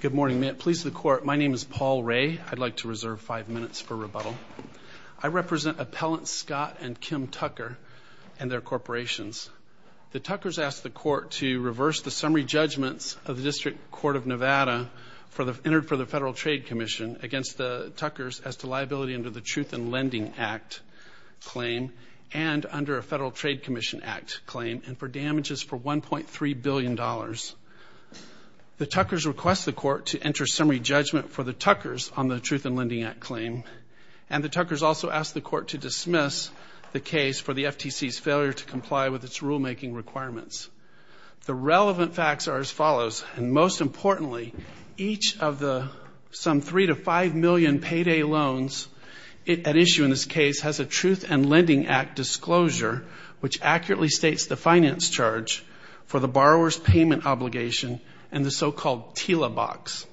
Good morning. Police of the Court, my name is Paul Ray. I'd like to reserve five minutes for rebuttal. I represent Appellants Scott and Kim Tucker and their corporations. The Tuckers asked the court to reverse the summary judgments of the District Court of Nevada entered for the Federal Trade Commission against the Tuckers as to liability under the Truth and Lending Act claim and under a Federal Trade Commission Act claim and for damages for $1.3 billion. The Tuckers request the court to enter summary judgment for the Tuckers on the Truth and Lending Act claim. And the Tuckers also asked the court to dismiss the case for the FTC's failure to comply with its rulemaking requirements. The relevant facts are as follows. And most importantly, each of the some three to five million payday loans at issue in this case has a Truth and Lending Act disclosure which accurately states the finance charge for the borrower's payment obligation and the so-called TILA box.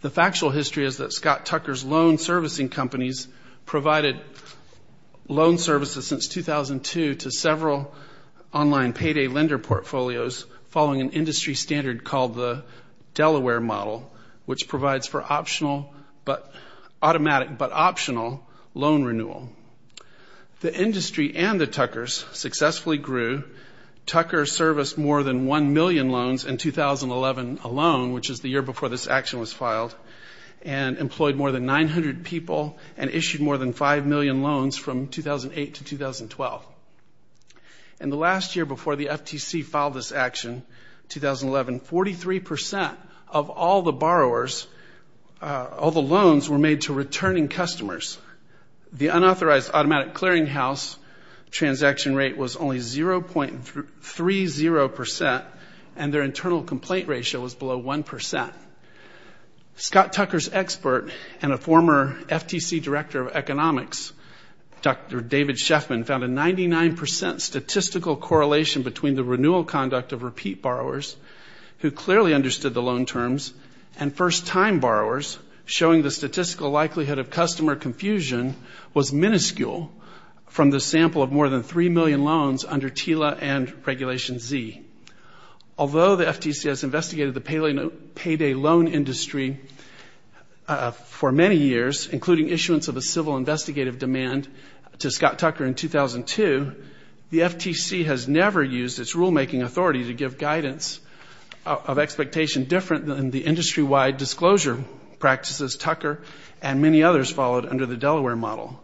The factual history is that Scott Tucker's loan servicing companies provided loan services since 2002 to several online payday lender portfolios following an industry standard called the Delaware Model, which provides for automatic but optional loan renewal. The industry and the Tuckers successfully grew. Tucker serviced more than one million loans in 2011 alone, which is the year before this action was filed, and employed more than 900 people and issued more than five million loans from 2008 to 2012. In the last year before the FTC filed this action, 2011, 43 percent of all the borrowers, all the loans were made to returning customers. The unauthorized automatic clearinghouse transaction rate was only 0.30 percent, and their internal complaint ratio was below 1 percent. Scott Tucker's expert and a former FTC Director of Economics, Dr. David Sheffman, found a 99 percent statistical correlation between the renewal conduct of repeat borrowers, who clearly understood the loan terms, and first-time borrowers, showing the statistical likelihood of customer confusion was minuscule from the sample of more than three million loans under TILA and Regulation Z. Although the FTC has investigated the payday loan industry for many years, including issuance of a civil investigative demand to Scott Tucker in 2002, the FTC has never used its rulemaking authority to give guidance of expectation different than the industry-wide disclosure practices Tucker and many others followed under the Delaware model.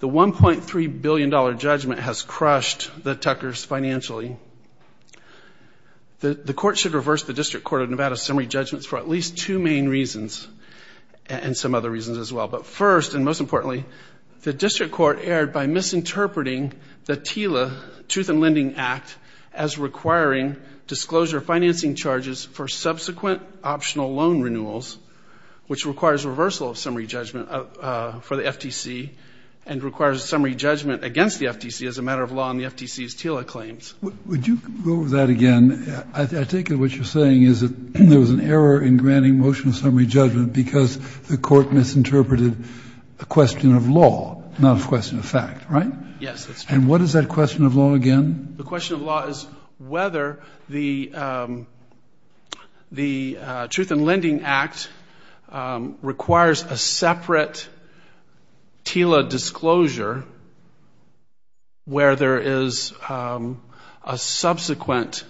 The $1.3 billion judgment has crushed the Tuckers financially. The court should reverse the District Court of Nevada's summary judgments for at least two main reasons, and some other reasons as well. But first, and most importantly, the District Court erred by misinterpreting the TILA Truth in Lending Act as requiring disclosure financing charges for subsequent optional loan renewals, which requires reversal of summary judgment for the FTC and requires summary judgment against the FTC as a matter of law in the FTC's TILA claims. Would you go over that again? I take it what you're saying is that there was an error in the question of law, not a question of fact, right? Yes, that's right. And what is that question of law again? The question of law is whether the Truth in Lending Act requires a separate TILA disclosure where there is a subsequent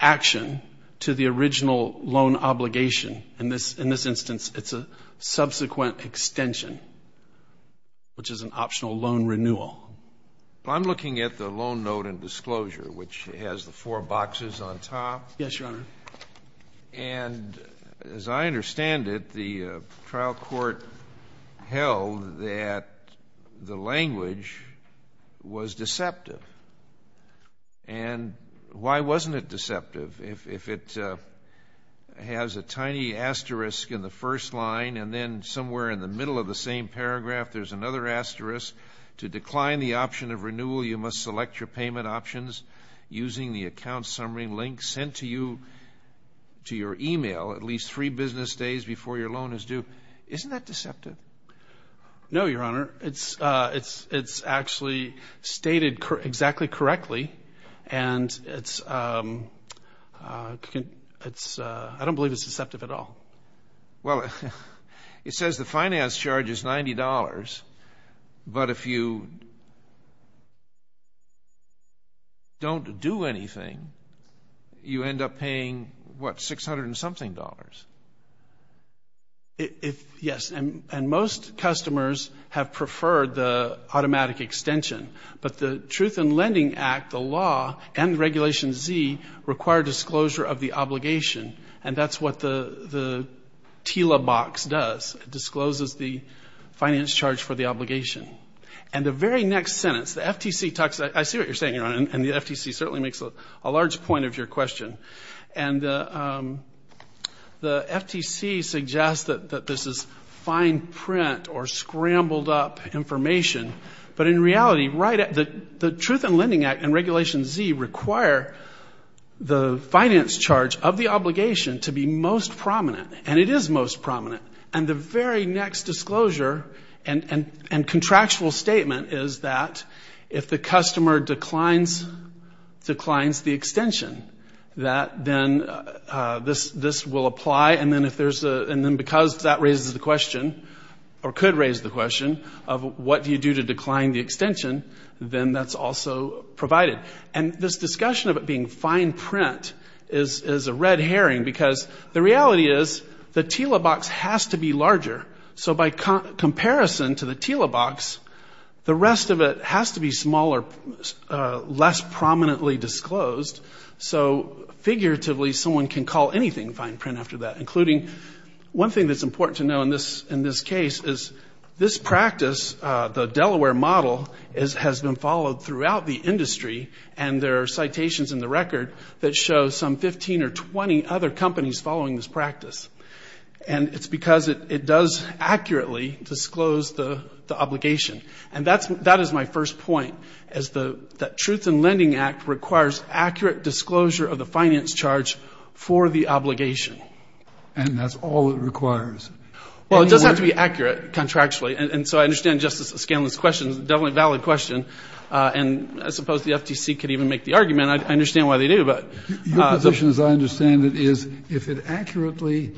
action to the original loan obligation. In this instance, it's a subsequent extension, which is an optional loan renewal. I'm looking at the loan note and disclosure, which has the four boxes on top. Yes, Your Honor. And as I understand it, the trial court held that the language was deceptive. And why wasn't it deceptive? If it has a tiny asterisk in the first line and then somewhere in the middle of the same paragraph, there's another asterisk, to decline the option of renewal, you must select your payment options using the account summary link sent to you to your email at least three business days before your loan is due. Isn't that deceptive? No, Your Honor. It's actually stated exactly correctly, and it's not deceptive. I don't believe it's deceptive at all. Well, it says the finance charge is $90, but if you don't do anything, you end up paying what, $600 and something? Yes, and most customers have preferred the automatic extension. But the Truth in Lending Act, the law, and Regulation Z require disclosure of the obligation, and that's what the TILA box does. It discloses the finance charge for the obligation. And the very next sentence, the FTC talks, I see what you're saying, Your Honor, and the FTC certainly makes a large point of your question. And the FTC suggests that this is fine print or scrambled up information, but in reality, the Truth in Lending Act and Regulation Z require the finance charge of the obligation to be most prominent, and it is most prominent. And the very next disclosure and contractual statement is that if the customer declines the extension, that then this will apply, and then because that raises the question, or could raise the question, of what do you do to decline the extension, then that's also provided. And this discussion of it being fine print is a red herring, because the reality is, the TILA box has to be larger. So by comparison to the TILA box, the rest of it has to be smaller, less prominently disclosed. So figuratively, someone can call anything fine print after that, including one thing that's important to know in this case is this practice, the Delaware model, has been followed throughout the industry, and there are citations in the record that show some 15 or 20 other companies following this practice. And it's because it does accurately disclose the obligation. And that is my first point, is that Truth in Lending Act requires accurate disclosure of the finance charge for the obligation. And that's all it requires. Well, it does have to be accurate contractually, and so I understand Justice Scanlon's question is definitely a valid question, and I suppose the FTC could even make the argument. I understand why they do, but... Your position, as I understand it, is if it accurately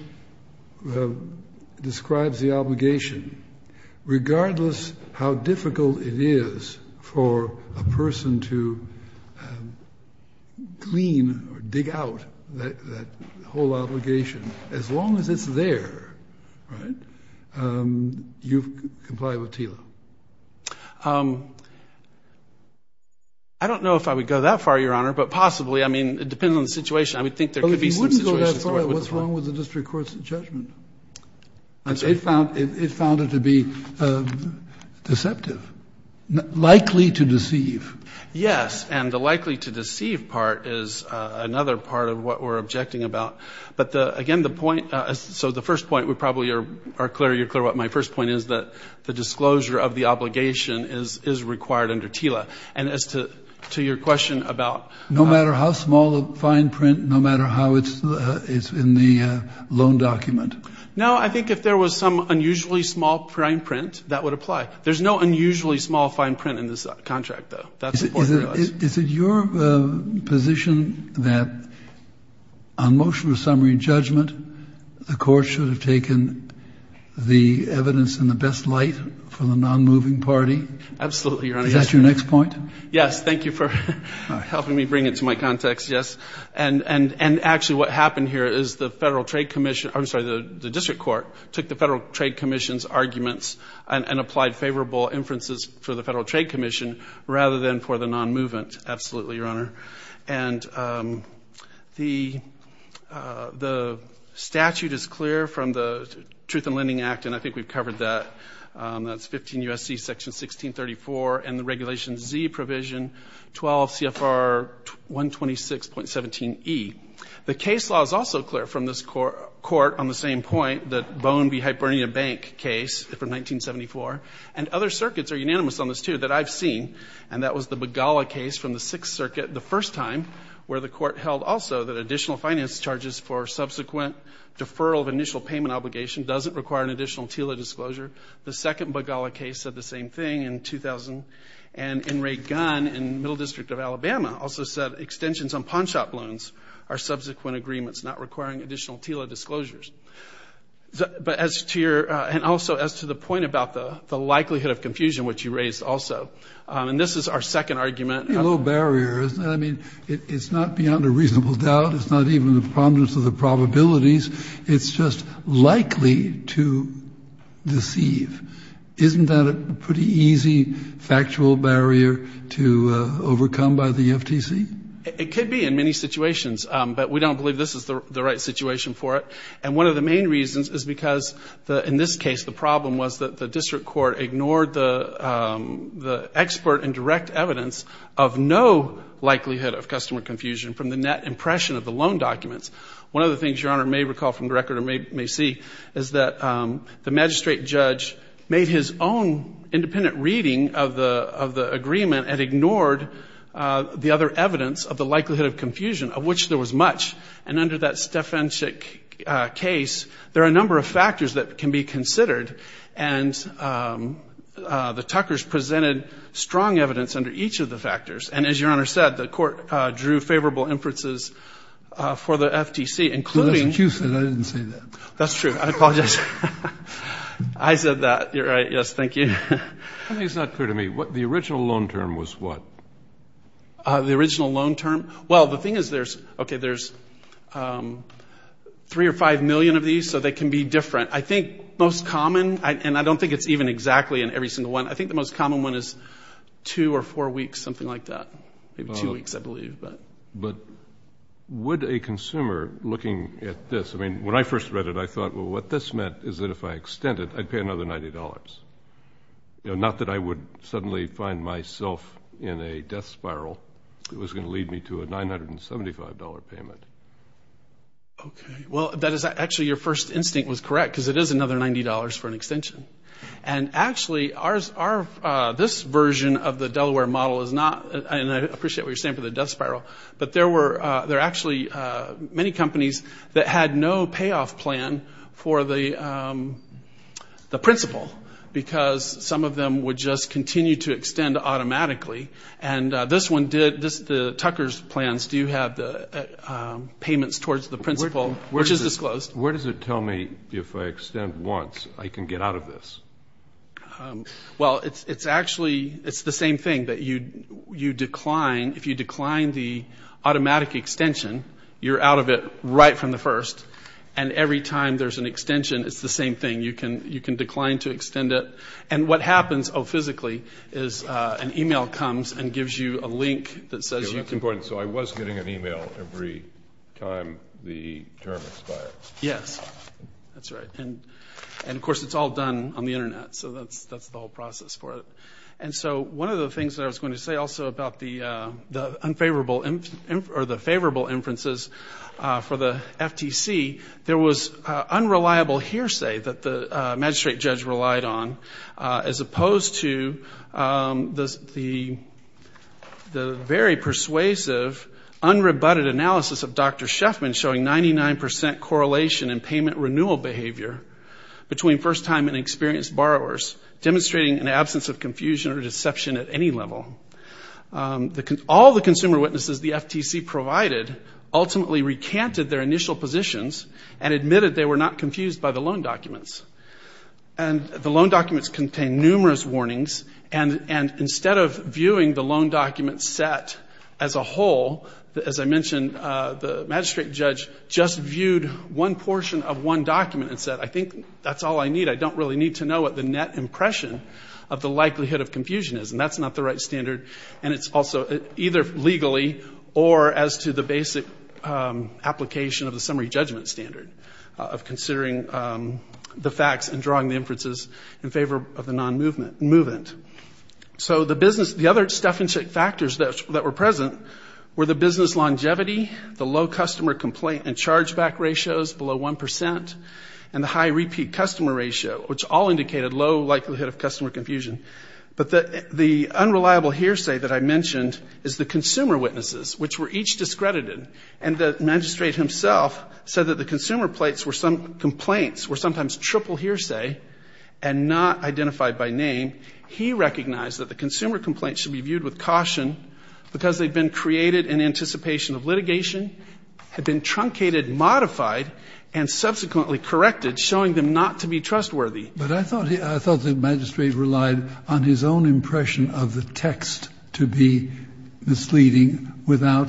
describes the obligation, regardless how difficult it is for a person to glean or dig out that whole obligation, as long as it's there, right, you comply with TILA. I don't know if I would go that far, Your Honor, but possibly. I mean, it depends on the situation. I would think there could be some situations where it would apply. Well, if you wouldn't go that far, what's wrong with the district court's judgment? It found it to be deceptive, likely to deceive. Yes, and the likely to deceive part is another part of what we're objecting about. But again, the point, so the first point, we probably are clear, you're clear about my first point, is that the disclosure of the obligation is required under TILA. And as to your question about... No, I think if there was some unusually small fine print, that would apply. There's no unusually small fine print in this contract, though. That's important to us. Is it your position that on motion of summary judgment, the court should have taken the evidence in the best light for the non-moving party? Absolutely, Your Honor. Is that your next point? Yes, thank you for helping me bring it to my context, yes. And actually what happened here is the district court took the Federal Trade Commission's arguments and applied favorable inferences for the Federal Trade Commission rather than for the non-movement. Absolutely, Your Honor. And the statute is clear from the Truth in Lending Act, and I think it's also clear from this court on the same point, the Bone v. Hibernia Bank case from 1974, and other circuits are unanimous on this, too, that I've seen, and that was the Begala case from the Sixth Circuit, the first time where the court held also that additional finance charges for subsequent deferral of initial payment obligation doesn't require an additional TILA disclosure. The second Begala case said the same thing in 2000, and Ray Gunn in the Middle District of Alabama also said extensions on pawnshop loans are subsequent agreements not requiring additional TILA disclosures. But as to your, and also as to the point about the likelihood of confusion, which you raised also, and this is our second argument. It's a pretty low barrier, isn't it? I mean, it's not beyond a reasonable doubt. It's not even the prominence of the probabilities. It's just likely to deceive. Isn't that a pretty easy factual barrier to overcome by the FTC? It could be in many situations, but we don't believe this is the right situation for it. And one of the main reasons is because, in this case, the problem was that the district court ignored the expert and direct evidence of no likelihood of customer confusion from the net impression of the loan documents. One of the things your Honor may recall from the record or may see is that the magistrate judge made his own independent reading of the agreement and ignored the other evidence of the likelihood of confusion, of which there was much. And under that Stefansik case, there are a number of factors that can be considered, and the Tuckers presented strong evidence under each of the factors. And as your Honor said, the court drew favorable inferences for the FTC, including... That's true. I apologize. I said that. You're right. Yes, thank you. I think it's not clear to me. The original loan term was what? The original loan term? Well, the thing is there's, okay, there's 3 or 5 million of these, so they can be 2 or 4 weeks, something like that, maybe 2 weeks, I believe. But would a consumer looking at this, I mean, when I first read it, I thought, well, what this meant is that if I extended, I'd pay another $90. You know, not that I would suddenly find myself in a death spiral. It was going to lead me to a $975 payment. Okay. Well, that is actually your first instinct was correct, because it is another $90 for an extension. And actually, this version of the Delaware model is not, and I appreciate what you're saying for the death spiral, but there were actually many companies that had no payoff plan for the principal, because some of them would just continue to extend automatically. And this one did. The Tuckers plans do have the payments towards the principal, which is disclosed. Where does it tell me if I extend once, I can get out of this? Well, it's actually, it's the same thing, that you decline, if you decline the automatic extension, you're out of it right from the first, and every time there's an extension, it's the same thing. You can decline to extend it. And what happens, oh, physically, is an email comes and gives you a link that says you can go to court, and so I was getting an email every time the term expired. Yes, that's right. And of course, it's all done on the Internet, so that's the whole process for it. And so one of the things that I was going to say also about the favorable inferences for the FTC, there was unreliable hearsay that the magistrate judge relied on, as opposed to the very persuasive, unrebutted analysis of Dr. Sheffman showing 99% correlation in payment renewal behavior between first-time and experienced borrowers, demonstrating an absence of confusion or deception at any level. All the consumer witnesses the FTC provided ultimately recanted their initial positions and admitted they were not warnings, and instead of viewing the loan document set as a whole, as I mentioned, the magistrate judge just viewed one portion of one document and said, I think that's all I need. I don't really need to know what the net impression of the likelihood of confusion is, and that's not the right standard. And it's also either legally or as to the basic application of the summary judgment standard of considering the facts and drawing the inferences in favor of the non-movement. So the other stuff and check factors that were present were the business longevity, the low customer complaint and chargeback ratios below 1%, and the high repeat customer ratio, which all indicated low likelihood of customer confusion. But the unreliable hearsay that I mentioned is the consumer witnesses, which were each discredited, and the magistrate himself said that the consumer complaints were sometimes triple hearsay and not identified by name. He recognized that the consumer complaints should be viewed with caution because they had been created in anticipation of litigation, had been truncated, modified, and subsequently corrected, showing them not to be trustworthy. But I thought the magistrate relied on his own impression of the text to be misleading without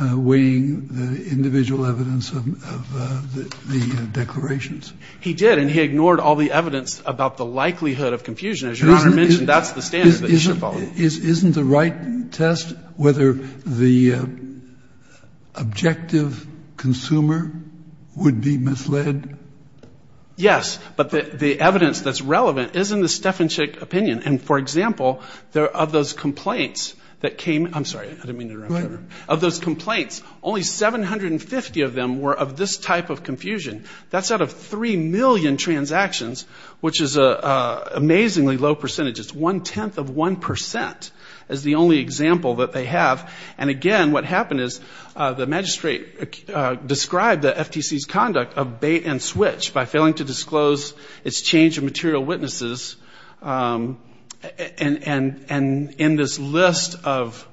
weighing the individual evidence of the declarations. He did, and he ignored all the evidence about the likelihood of confusion. As Your Honor mentioned, that's the standard that you should follow. Isn't the right test whether the objective consumer would be misled? Yes. But the evidence that's relevant isn't the Stefanschik opinion. The Stefanschik opinion, and for example, of those complaints that came, I'm sorry, I didn't mean to interrupt there, of those complaints, only 750 of them were of this type of confusion. That's out of 3 million transactions, which is an amazingly low percentage. It's one-tenth of 1% is the only example that they have. And again, what happened is the magistrate described the FTC's conduct of bait and switch by failing to disclose its change of material witnesses, and in this list of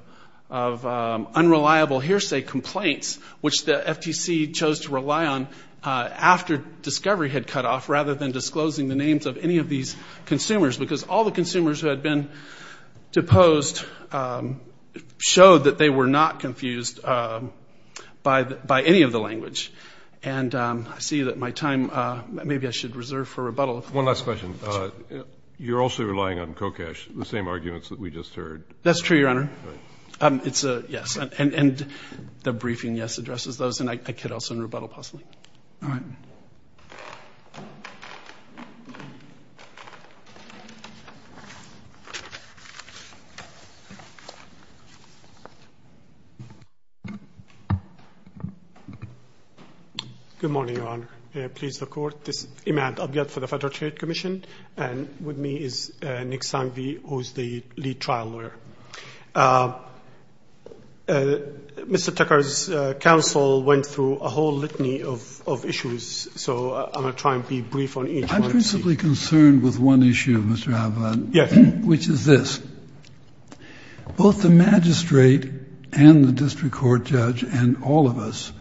unreliable hearsay complaints, which the FTC chose to rely on after discovery had cut off, rather than disclosing the names of any of these consumers, because all the consumers who had been deposed showed that they were not confused by any of the language. And I see that my time, maybe I should reserve for rebuttal. One last question. You're also relying on Kocash, the same arguments that we just heard. That's true, Your Honor. It's a yes. And the briefing yes addresses those, and I could also rebuttal possibly. Good morning, Your Honor. Please, the Court. This is Imad Abyad for the Federal Trade Commission, and with me is Nick Sanghvi, who is the lead trial lawyer. Mr. Tucker's counsel went through a whole litany of issues, so I'm going to try and be brief on each one. I'm principally concerned with one issue, Mr. Abyad, which is this. Both the magistrate and the district court judge, and all of us,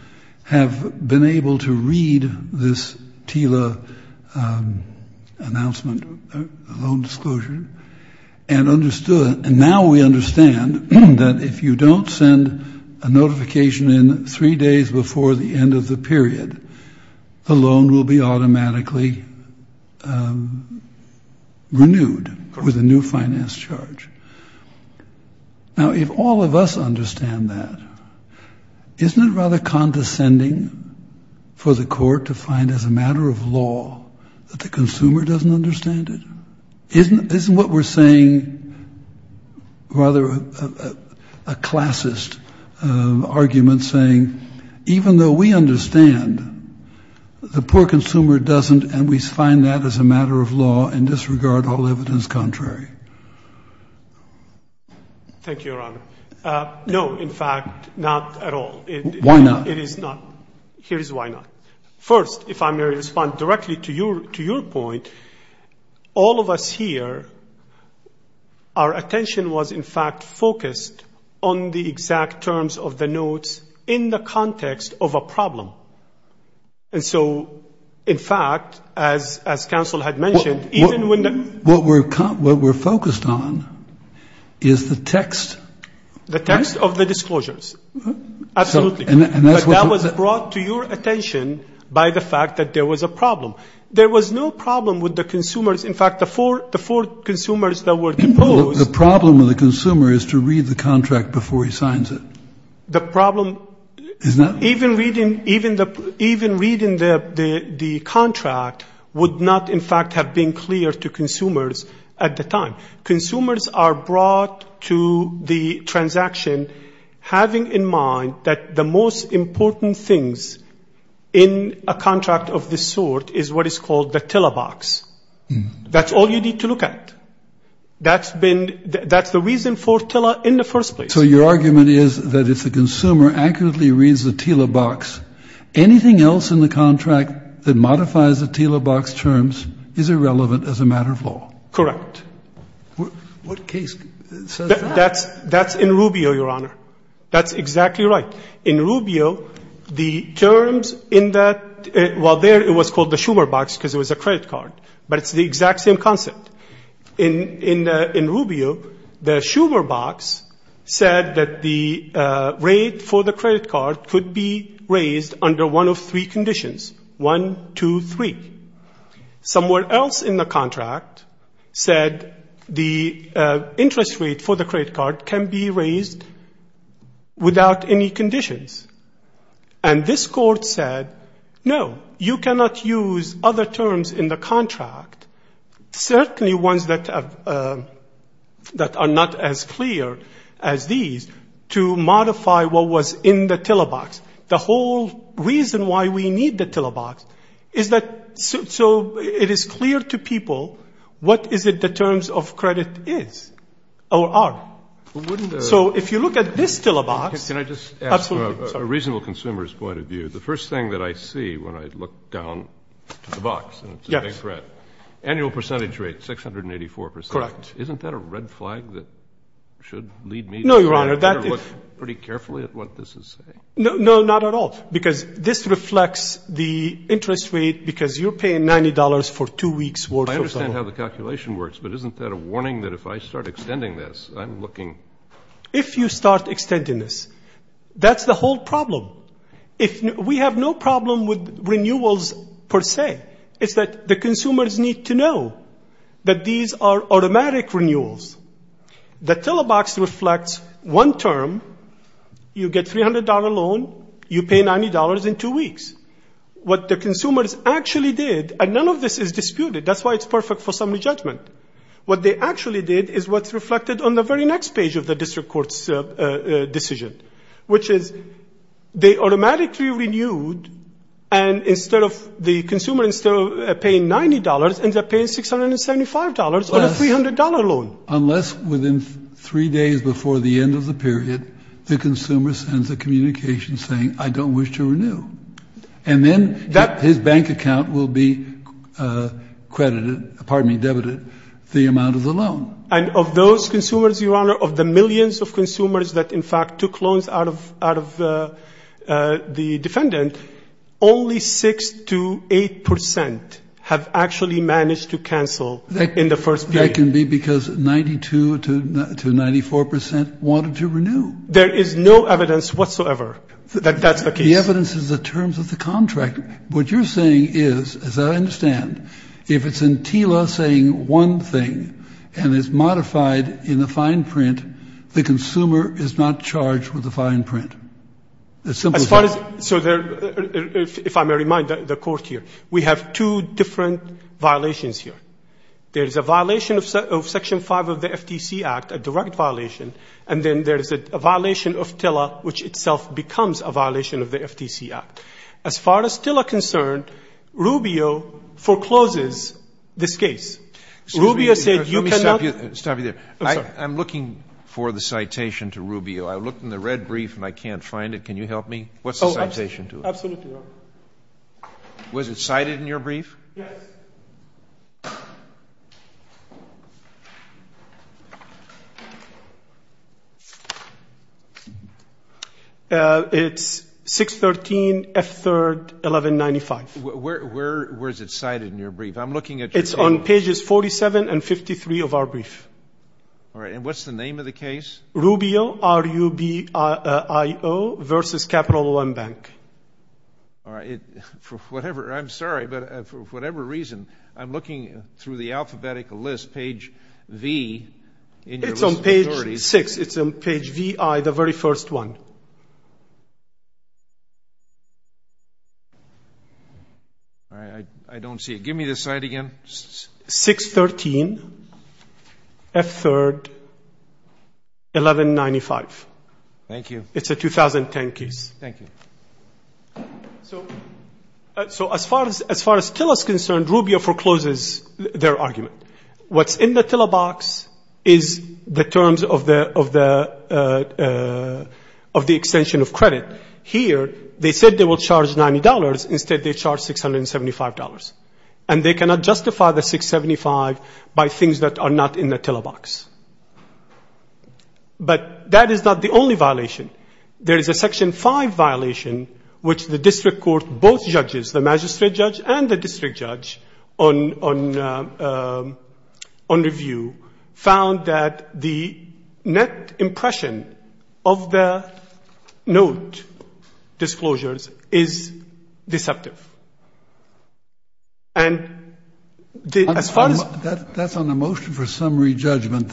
have been able to read this TILA announcement, loan disclosure, and understood, and now we understand, that if you don't send a notification in three days before the end of the period, the loan will be automatically renewed with a new finance charge. Now, if all of us understand that, isn't it rather condescending for the court to find, as a matter of law, that the consumer doesn't understand it? Isn't what we're saying rather a classist argument, saying, even though we understand, the poor consumer doesn't, and we find that as a matter of law and disregard all evidence contrary? Thank you, Your Honor. No, in fact, not at all. Why not? First, if I may respond directly to your point, all of us here, our attention was, in fact, focused on the exact terms of the notes in the context of a problem. And so, in fact, as counsel had mentioned, even when the... What we're focused on is the text. The text of the disclosures, absolutely. But that was brought to your attention by the fact that there was a problem. There was no problem with the consumers. In fact, the four consumers that were deposed... The problem with the consumer is to read the contract before he signs it. The problem... So your argument is that if the consumer accurately reads the TILA box, anything else in the contract that modifies the TILA box terms is irrelevant as a matter of law? Correct. What case says that? That's in Rubio, Your Honor. That's exactly right. In Rubio, the terms in that... Well, there it was called the Schumer box because it was a credit card, but it's the exact same concept. In Rubio, the Schumer box said that the rate for the credit card could be raised under one of three conditions. One, two, three. Somewhere else in the contract said the interest rate for the credit card can be raised without any conditions. And this court said, no, you cannot use other terms in the contract. There are certainly ones that are not as clear as these to modify what was in the TILA box. The whole reason why we need the TILA box is that so it is clear to people what is it the terms of credit is or are. So if you look at this TILA box... Can I just ask from a reasonable consumer's point of view, the first thing that I see when I look down to the box, and it's a big threat, is 684%. Isn't that a red flag that should lead me to look pretty carefully at what this is saying? No, not at all, because this reflects the interest rate because you're paying $90 for two weeks worth of... I understand how the calculation works, but isn't that a warning that if I start extending this, I'm looking... If you start extending this, that's the whole problem. We have no problem with renewals per se. It's that the consumers need to know that these are automatic renewals. The TILA box reflects one term, you get $300 loan, you pay $90 in two weeks. What the consumers actually did, and none of this is disputed, that's why it's perfect for summary judgment. What they actually did is what's reflected on the very next page of the district court's decision, which is they automatically renewed, and instead of the consumer paying $90, ends up paying $675 on a $300 loan. Unless within three days before the end of the period, the consumer sends a communication saying, I don't wish to renew, and then his bank account will be credited, pardon me, debited, the amount of the loan. And of those consumers, Your Honor, of the millions of consumers that in fact took loans out of the defendant, only 6 to 8% have actually managed to cancel in the first period. That can be because 92 to 94% wanted to renew. There is no evidence whatsoever that that's the case. The evidence is the terms of the contract. What you're saying is, as I understand, if it's in TILA saying one thing, and it's modified in the fine print, the consumer is not charged with the fine print. As simple as that. If I may remind the Court here, we have two different violations here. There is a violation of Section 5 of the FTC Act, a direct violation, and then there is a violation of TILA, which itself becomes a violation of the FTC Act. As far as TILA is concerned, Rubio forecloses this case. Rubio said you cannot ---- I'm looking for the citation to Rubio. I looked in the red brief and I can't find it. Can you help me? What's the citation to it? Absolutely, Your Honor. Was it cited in your brief? Yes. Okay. It's 613F3-1195. Where is it cited in your brief? I'm looking at your case. It's on pages 47 and 53 of our brief. All right. And what's the name of the case? Rubio, R-U-B-I-O, versus Capital One Bank. All right. I'm sorry, but for whatever reason, I'm looking through the alphabetic list, page V. It's on page 6. It's on page VI, the very first one. I don't see it. Give me the site again. 613F3-1195. Thank you. It's a 2010 case. Thank you. So as far as TILA is concerned, Rubio forecloses their argument. What's in the TILA box is the terms of the extension of credit. Here, they said they will charge $90. Instead, they charge $675. And they cannot justify the $675 by things that are not in the TILA box. But that is not the only violation. There is a section V violation, which the district court, both judges, the magistrate judge and the district judge, on review, found that the net impression of the note disclosures is deceptive. And as far as the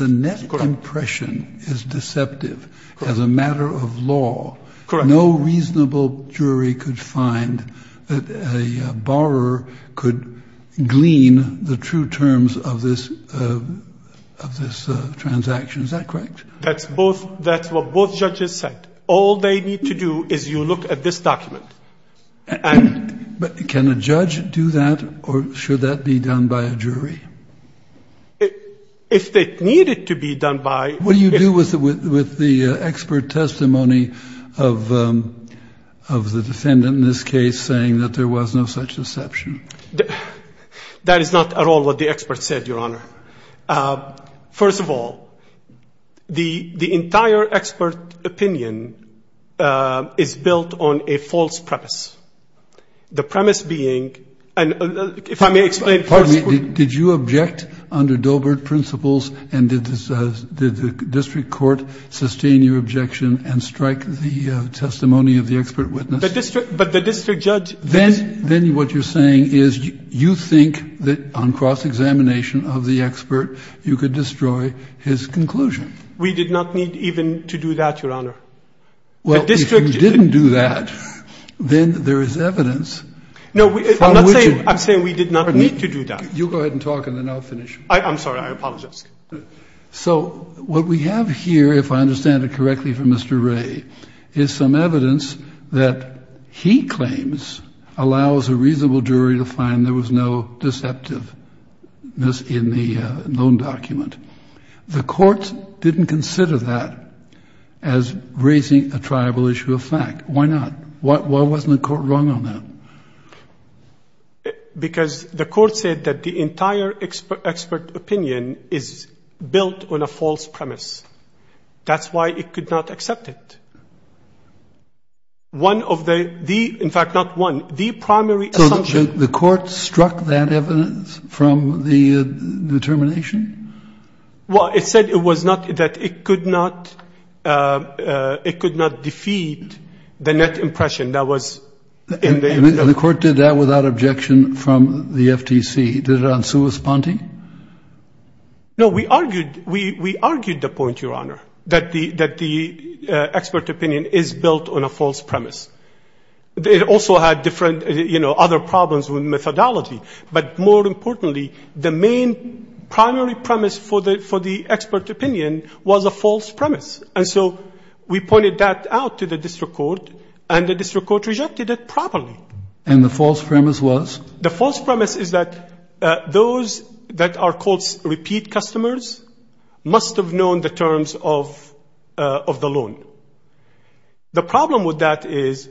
net impression is deceptive. Correct. As a matter of law. Correct. No reasonable jury could find that a borrower could glean the true terms of this transaction. Is that correct? That's what both judges said. All they need to do is you look at this document. But can a judge do that? Or should that be done by a jury? If it needed to be done by What do you do with the expert testimony of the defendant in this case saying that there was no such deception? That is not at all what the expert said, Your Honor. First of all, the entire expert opinion is built on a false premise. The premise being, and if I may explain first. Did you object under Dobert principles and did the district court sustain your objection and strike the testimony of the expert witness? But the district judge. Then what you're saying is you think that on cross-examination of the expert you could destroy his conclusion. We did not need even to do that, Your Honor. Well, if you didn't do that, then there is evidence. No, I'm not saying we did not need to do that. You go ahead and talk and then I'll finish. I'm sorry, I apologize. So what we have here, if I understand it correctly from Mr. Ray, is some evidence that he claims allows a reasonable jury to find there was no deceptiveness in the known document. The court didn't consider that as raising a tribal issue of fact. Why not? Why wasn't the court wrong on that? Because the court said that the entire expert opinion is built on a false premise. That's why it could not accept it. One of the, in fact, not one, the primary assumption. So the court struck that evidence from the determination? Well, it said it was not, that it could not defeat the net impression that was in the. The court did that without objection from the FTC? Did it on sui sponte? No, we argued the point, Your Honor, that the expert opinion is built on a false premise. It also had different, you know, other problems with methodology. But more importantly, the main primary premise for the expert opinion was a false premise. And so we pointed that out to the district court, and the district court rejected it properly. And the false premise was? The false premise is that those that are called repeat customers must have known the terms of the loan. The problem with that is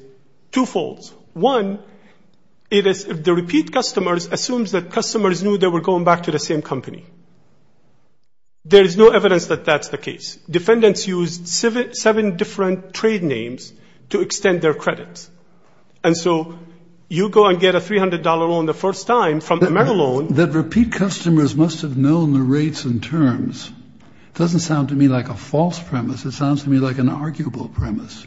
twofold. One, it is the repeat customers assumes that customers knew they were going back to the same company. There is no evidence that that's the case. Defendants used seven different trade names to extend their credits. And so you go and get a $300 loan the first time from a Merrill loan. That repeat customers must have known the rates and terms doesn't sound to me like a false premise. It sounds to me like an arguable premise.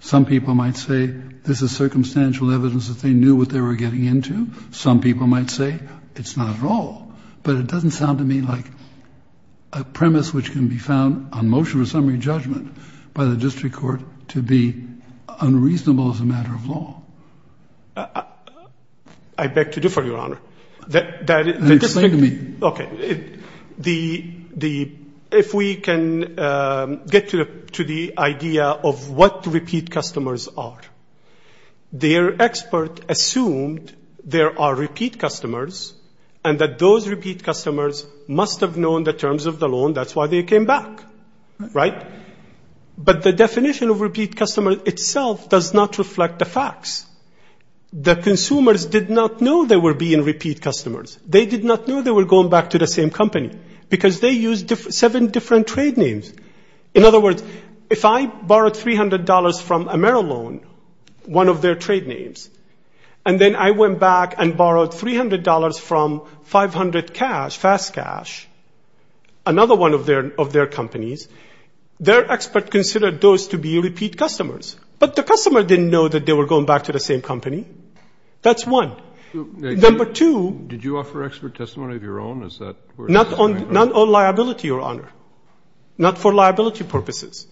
Some people might say this is circumstantial evidence that they knew what they were getting into. Some people might say it's not at all. But it doesn't sound to me like a premise which can be found on motion of summary judgment by the district court to be unreasonable as a matter of law. I beg to differ, Your Honor. Speak to me. Okay. If we can get to the idea of what repeat customers are. Their expert assumed there are repeat customers and that those repeat customers must have known the terms of the loan. That's why they came back. Right? But the definition of repeat customer itself does not reflect the facts. The consumers did not know they were being repeat customers. They did not know they were going back to the same company because they used seven different trade names. In other words, if I borrowed $300 from AmeriLoan, one of their trade names, and then I went back and borrowed $300 from 500 Cash, Fast Cash, another one of their companies, their expert considered those to be repeat customers. But the customer didn't know that they were going back to the same company. That's one. Number two. Did you offer expert testimony of your own? Not on liability, Your Honor. Not for liability purposes.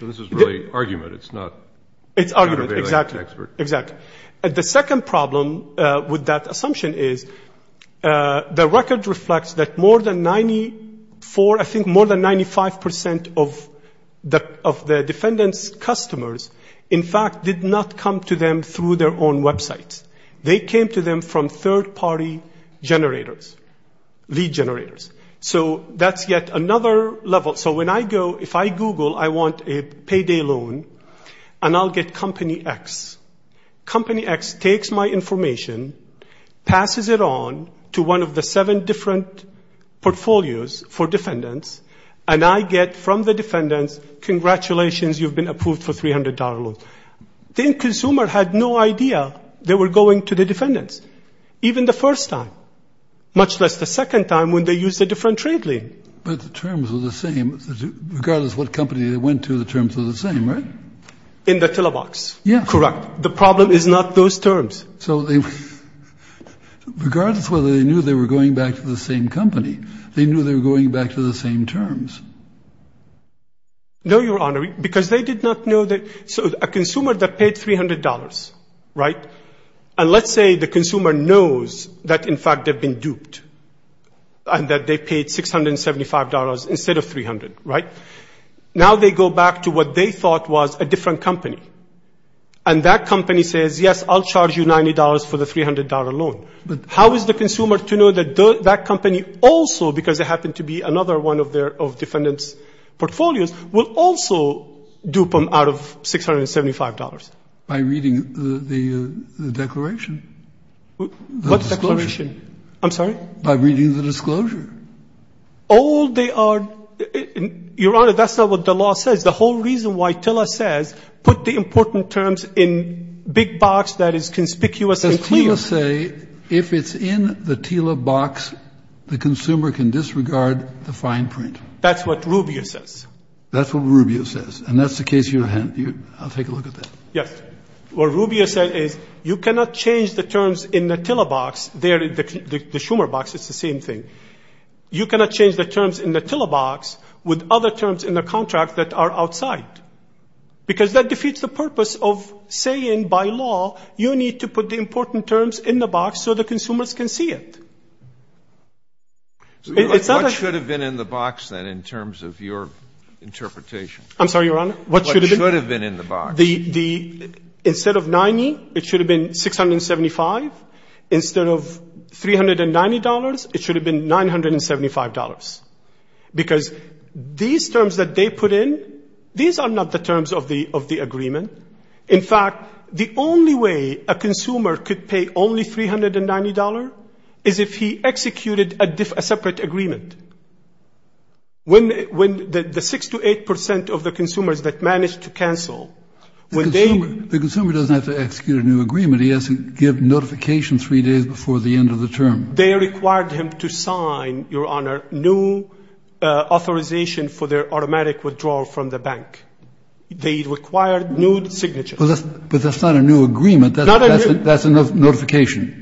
So this is really argument. It's not counter-balancing expert. It's argument. Exactly. Exactly. The second problem with that assumption is the record reflects that more than 94, I think more than 95% of the defendant's customers, in fact, did not come to them through their own websites. They came to them from third-party generators, lead generators. So that's yet another level. So when I go, if I Google, I want a payday loan, and I'll get Company X. Company X takes my information, passes it on to one of the seven different portfolios for defendants, and I get from the defendants, congratulations, you've been approved for $300 loan. The end consumer had no idea they were going to the defendants, even the first time, much less the second time when they used a different trade lien. But the terms were the same. Regardless of what company they went to, the terms were the same, right? In the Tillabox. Yes. Correct. The problem is not those terms. So regardless of whether they knew they were going back to the same company, they knew they were going back to the same terms. No, Your Honor, because they did not know that. So a consumer that paid $300, right? And let's say the consumer knows that, in fact, they've been duped, and that they paid $675 instead of $300, right? Now they go back to what they thought was a different company. And that company says, yes, I'll charge you $90 for the $300 loan. But how is the consumer to know that that company also, because it happened to be another one of their defendants' portfolios, will also dupe them out of $675? By reading the declaration. What declaration? I'm sorry? By reading the disclosure. Oh, they are – Your Honor, that's not what the law says. The whole reason why Tilla says put the important terms in big box that is conspicuous and clear. So you're saying if it's in the Tilla box, the consumer can disregard the fine print. That's what Rubio says. That's what Rubio says. And that's the case you have. I'll take a look at that. Yes. What Rubio said is you cannot change the terms in the Tilla box. There, the Schumer box, it's the same thing. You cannot change the terms in the Tilla box with other terms in the contract that are outside. Because that defeats the purpose of saying by law you need to put the important terms in the box so the consumers can see it. It's not a – What should have been in the box, then, in terms of your interpretation? I'm sorry, Your Honor? What should have been in the box? Instead of 90, it should have been 675. Instead of $390, it should have been $975. Because these terms that they put in, these are not the terms of the agreement. In fact, the only way a consumer could pay only $390 is if he executed a separate agreement. When the 6 to 8 percent of the consumers that managed to cancel, when they – The consumer doesn't have to execute a new agreement. He has to give notification three days before the end of the term. They required him to sign, Your Honor, new authorization for their automatic withdrawal from the bank. They required new signatures. But that's not a new agreement. That's a notification.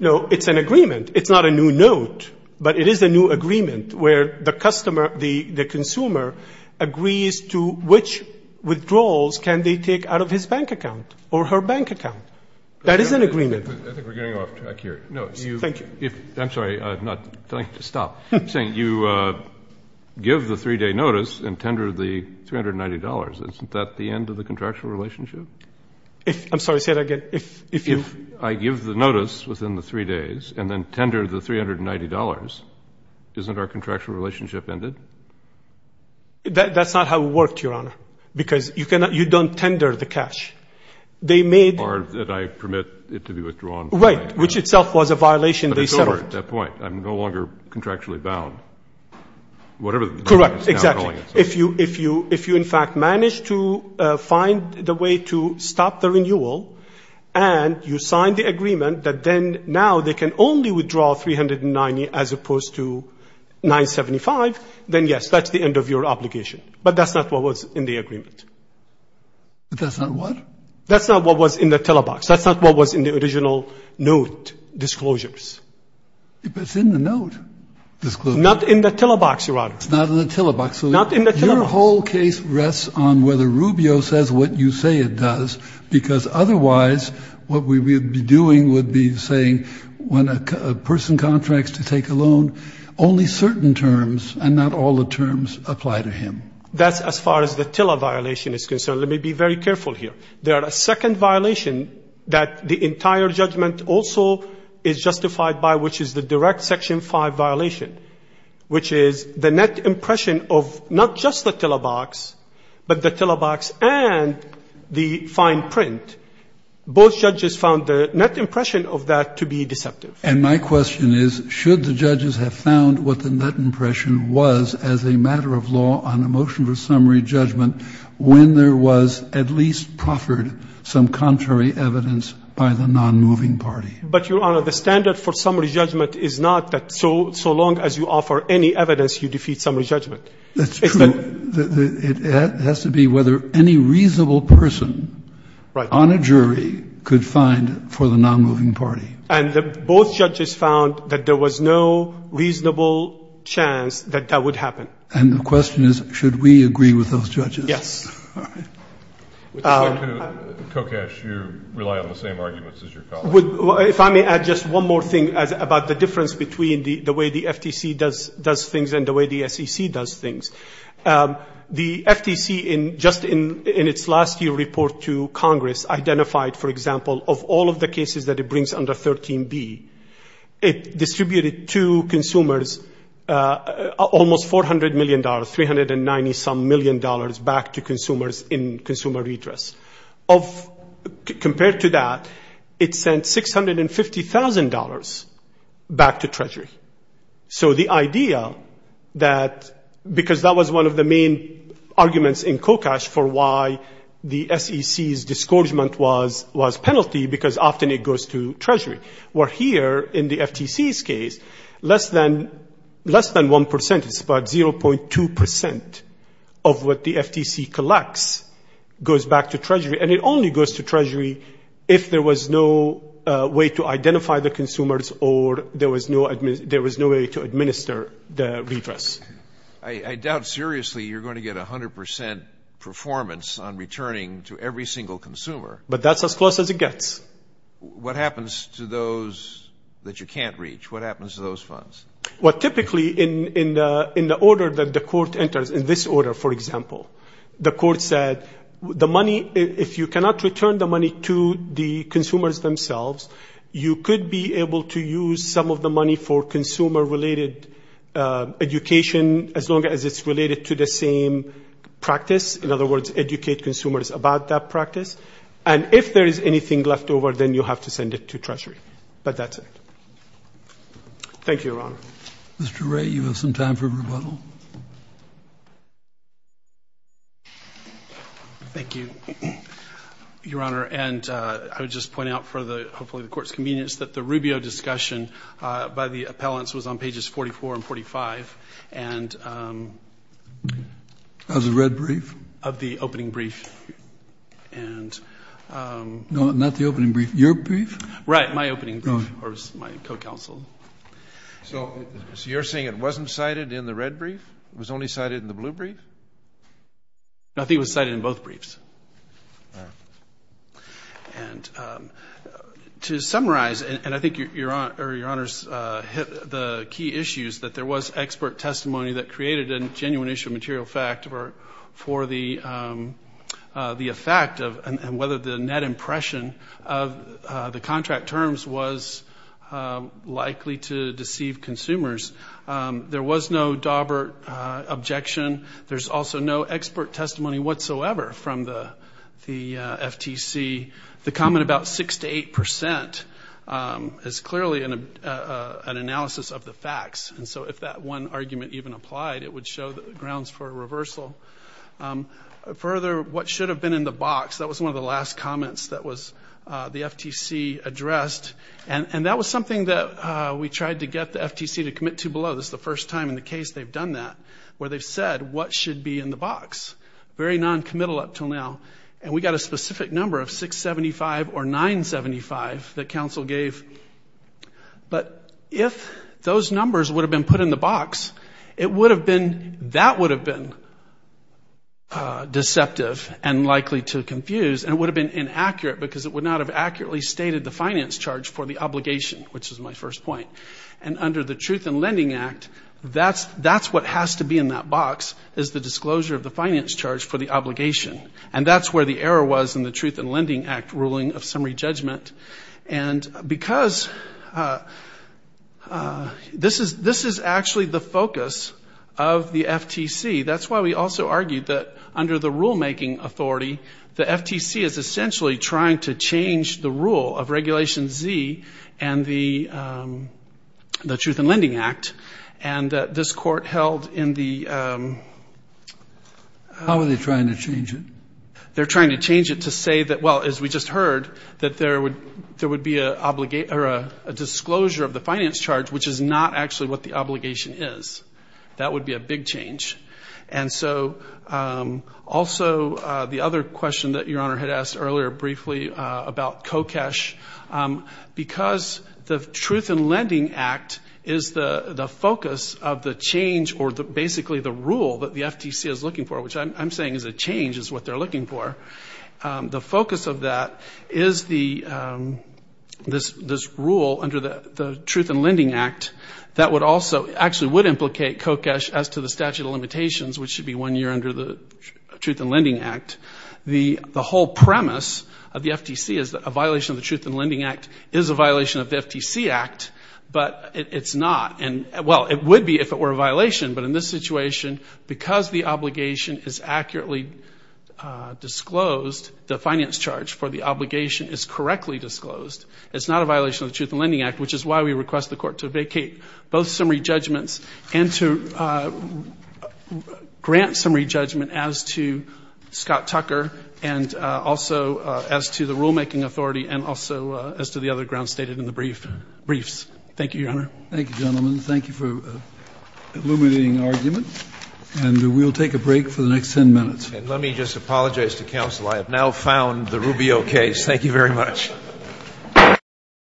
No, it's an agreement. It's not a new note, but it is a new agreement where the customer, the consumer, agrees to which withdrawals can they take out of his bank account or her bank account. That is an agreement. I think we're getting off track here. Thank you. I'm sorry. I'm not telling you to stop. I'm saying you give the three-day notice and tender the $390. Isn't that the end of the contractual relationship? I'm sorry. Say that again. If you – If I give the notice within the three days and then tender the $390, isn't our contractual relationship ended? That's not how it worked, Your Honor, because you don't tender the cash. They made – Or did I permit it to be withdrawn? Right, which itself was a violation they settled. But it's over at that point. I'm no longer contractually bound. Whatever the – Correct. Exactly. If you, in fact, managed to find the way to stop the renewal, and you signed the agreement that then now they can only withdraw $390 as opposed to $975, then, yes, that's the end of your obligation. But that's not what was in the agreement. That's not what? That's not what was in the telebox. That's not what was in the original note disclosures. But it's in the note disclosures. Not in the telebox, Your Honor. It's not in the telebox. Not in the telebox. Your whole case rests on whether Rubio says what you say it does, because otherwise what we would be doing would be saying when a person contracts to take a loan, only certain terms and not all the terms apply to him. That's as far as the televiolation is concerned. Let me be very careful here. There are a second violation that the entire judgment also is justified by, which is the direct Section 5 violation, which is the net impression of not just the telebox, but the telebox and the fine print. Both judges found the net impression of that to be deceptive. And my question is, should the judges have found what the net impression was as a matter of law on a motion for summary judgment when there was at least proffered some contrary evidence by the nonmoving party? But, Your Honor, the standard for summary judgment is not that so long as you offer any evidence, you defeat summary judgment. That's true. It has to be whether any reasonable person on a jury could find for the nonmoving party. And both judges found that there was no reasonable chance that that would happen. And the question is, should we agree with those judges? Yes. Kokesh, you rely on the same arguments as your colleague. If I may add just one more thing about the difference between the way the FTC does things and the way the SEC does things. The FTC, just in its last year report to Congress, identified, for example, of all of the cases that it brings under 13B, it distributed to consumers almost $400 million, $390-some million back to consumers in consumer redress. Compared to that, it sent $650,000 back to Treasury. So the idea that, because that was one of the main arguments in Kokesh for why the SEC's discouragement was penalty, because often it goes to Treasury, where here in the FTC's case, less than 1%, it's about 0.2% of what the FTC collects goes back to Treasury. And it only goes to Treasury if there was no way to identify the consumers or there was no way to administer the redress. I doubt seriously you're going to get 100% performance on returning to every single consumer. But that's as close as it gets. What happens to those that you can't reach? What happens to those funds? Well, typically, in the order that the court enters, in this order, for example, the court said, the money, if you cannot return the money to the consumers themselves, you could be able to use some of the money for consumer-related education as long as it's related to the same practice. In other words, educate consumers about that practice. And if there is anything left over, then you have to send it to Treasury. But that's it. Thank you, Your Honor. Mr. Wray, you have some time for rebuttal. Thank you, Your Honor. And I would just point out for hopefully the Court's convenience that the Rubio discussion by the appellants was on pages 44 and 45. Of the red brief? Of the opening brief. No, not the opening brief. Your brief? Right, my opening brief. Or my co-counsel. So you're saying it wasn't cited in the red brief? It was only cited in the blue brief? No, I think it was cited in both briefs. And to summarize, and I think Your Honor's hit the key issues, that there was expert testimony that created a genuine issue of material fact for the effect and whether the net impression of the contract terms was likely to deceive consumers. There was no Dawbert objection. There's also no expert testimony whatsoever from the FTC. The comment about 6% to 8% is clearly an analysis of the facts. And so if that one argument even applied, it would show grounds for reversal. Further, what should have been in the box, that was one of the last comments that was the FTC addressed. And that was something that we tried to get the FTC to commit to below. This is the first time in the case they've done that where they've said what should be in the box. Very noncommittal up until now. And we got a specific number of 675 or 975 that counsel gave. But if those numbers would have been put in the box, it would have been, that would have been deceptive and likely to confuse, and it would have been inaccurate because it would not have accurately stated the finance charge for the obligation, which is my first point. And under the Truth in Lending Act, that's what has to be in that box, is the disclosure of the finance charge for the obligation. And that's where the error was in the Truth in Lending Act ruling of summary judgment. And because this is actually the focus of the FTC, that's why we also argued that under the rulemaking authority, the FTC is essentially trying to change the rule of Regulation Z and the Truth in Lending Act. And this court held in the ‑‑ How are they trying to change it? They're trying to change it to say that, well, as we just heard, that there would be a disclosure of the finance charge, which is not actually what the obligation is. That would be a big change. And so also the other question that Your Honor had asked earlier briefly about COCESH, because the Truth in Lending Act is the focus of the change or basically the rule that the FTC is looking for, which I'm saying is a change is what they're looking for. The focus of that is this rule under the Truth in Lending Act that actually would implicate COCESH as to the statute of limitations, which should be one year under the Truth in Lending Act. The whole premise of the FTC is that a violation of the Truth in Lending Act is a violation of the FTC Act, but it's not. Well, it would be if it were a violation, but in this situation, because the obligation is accurately disclosed, the finance charge for the obligation is correctly disclosed. It's not a violation of the Truth in Lending Act, which is why we request the Court to vacate both summary judgments and to grant summary judgment as to Scott Tucker and also as to the rulemaking authority and also as to the other grounds stated in the briefs. Thank you, Your Honor. Thank you, gentlemen. Thank you for illuminating argument. And we'll take a break for the next ten minutes. And let me just apologize to counsel. I have now found the Rubio case. Thank you very much.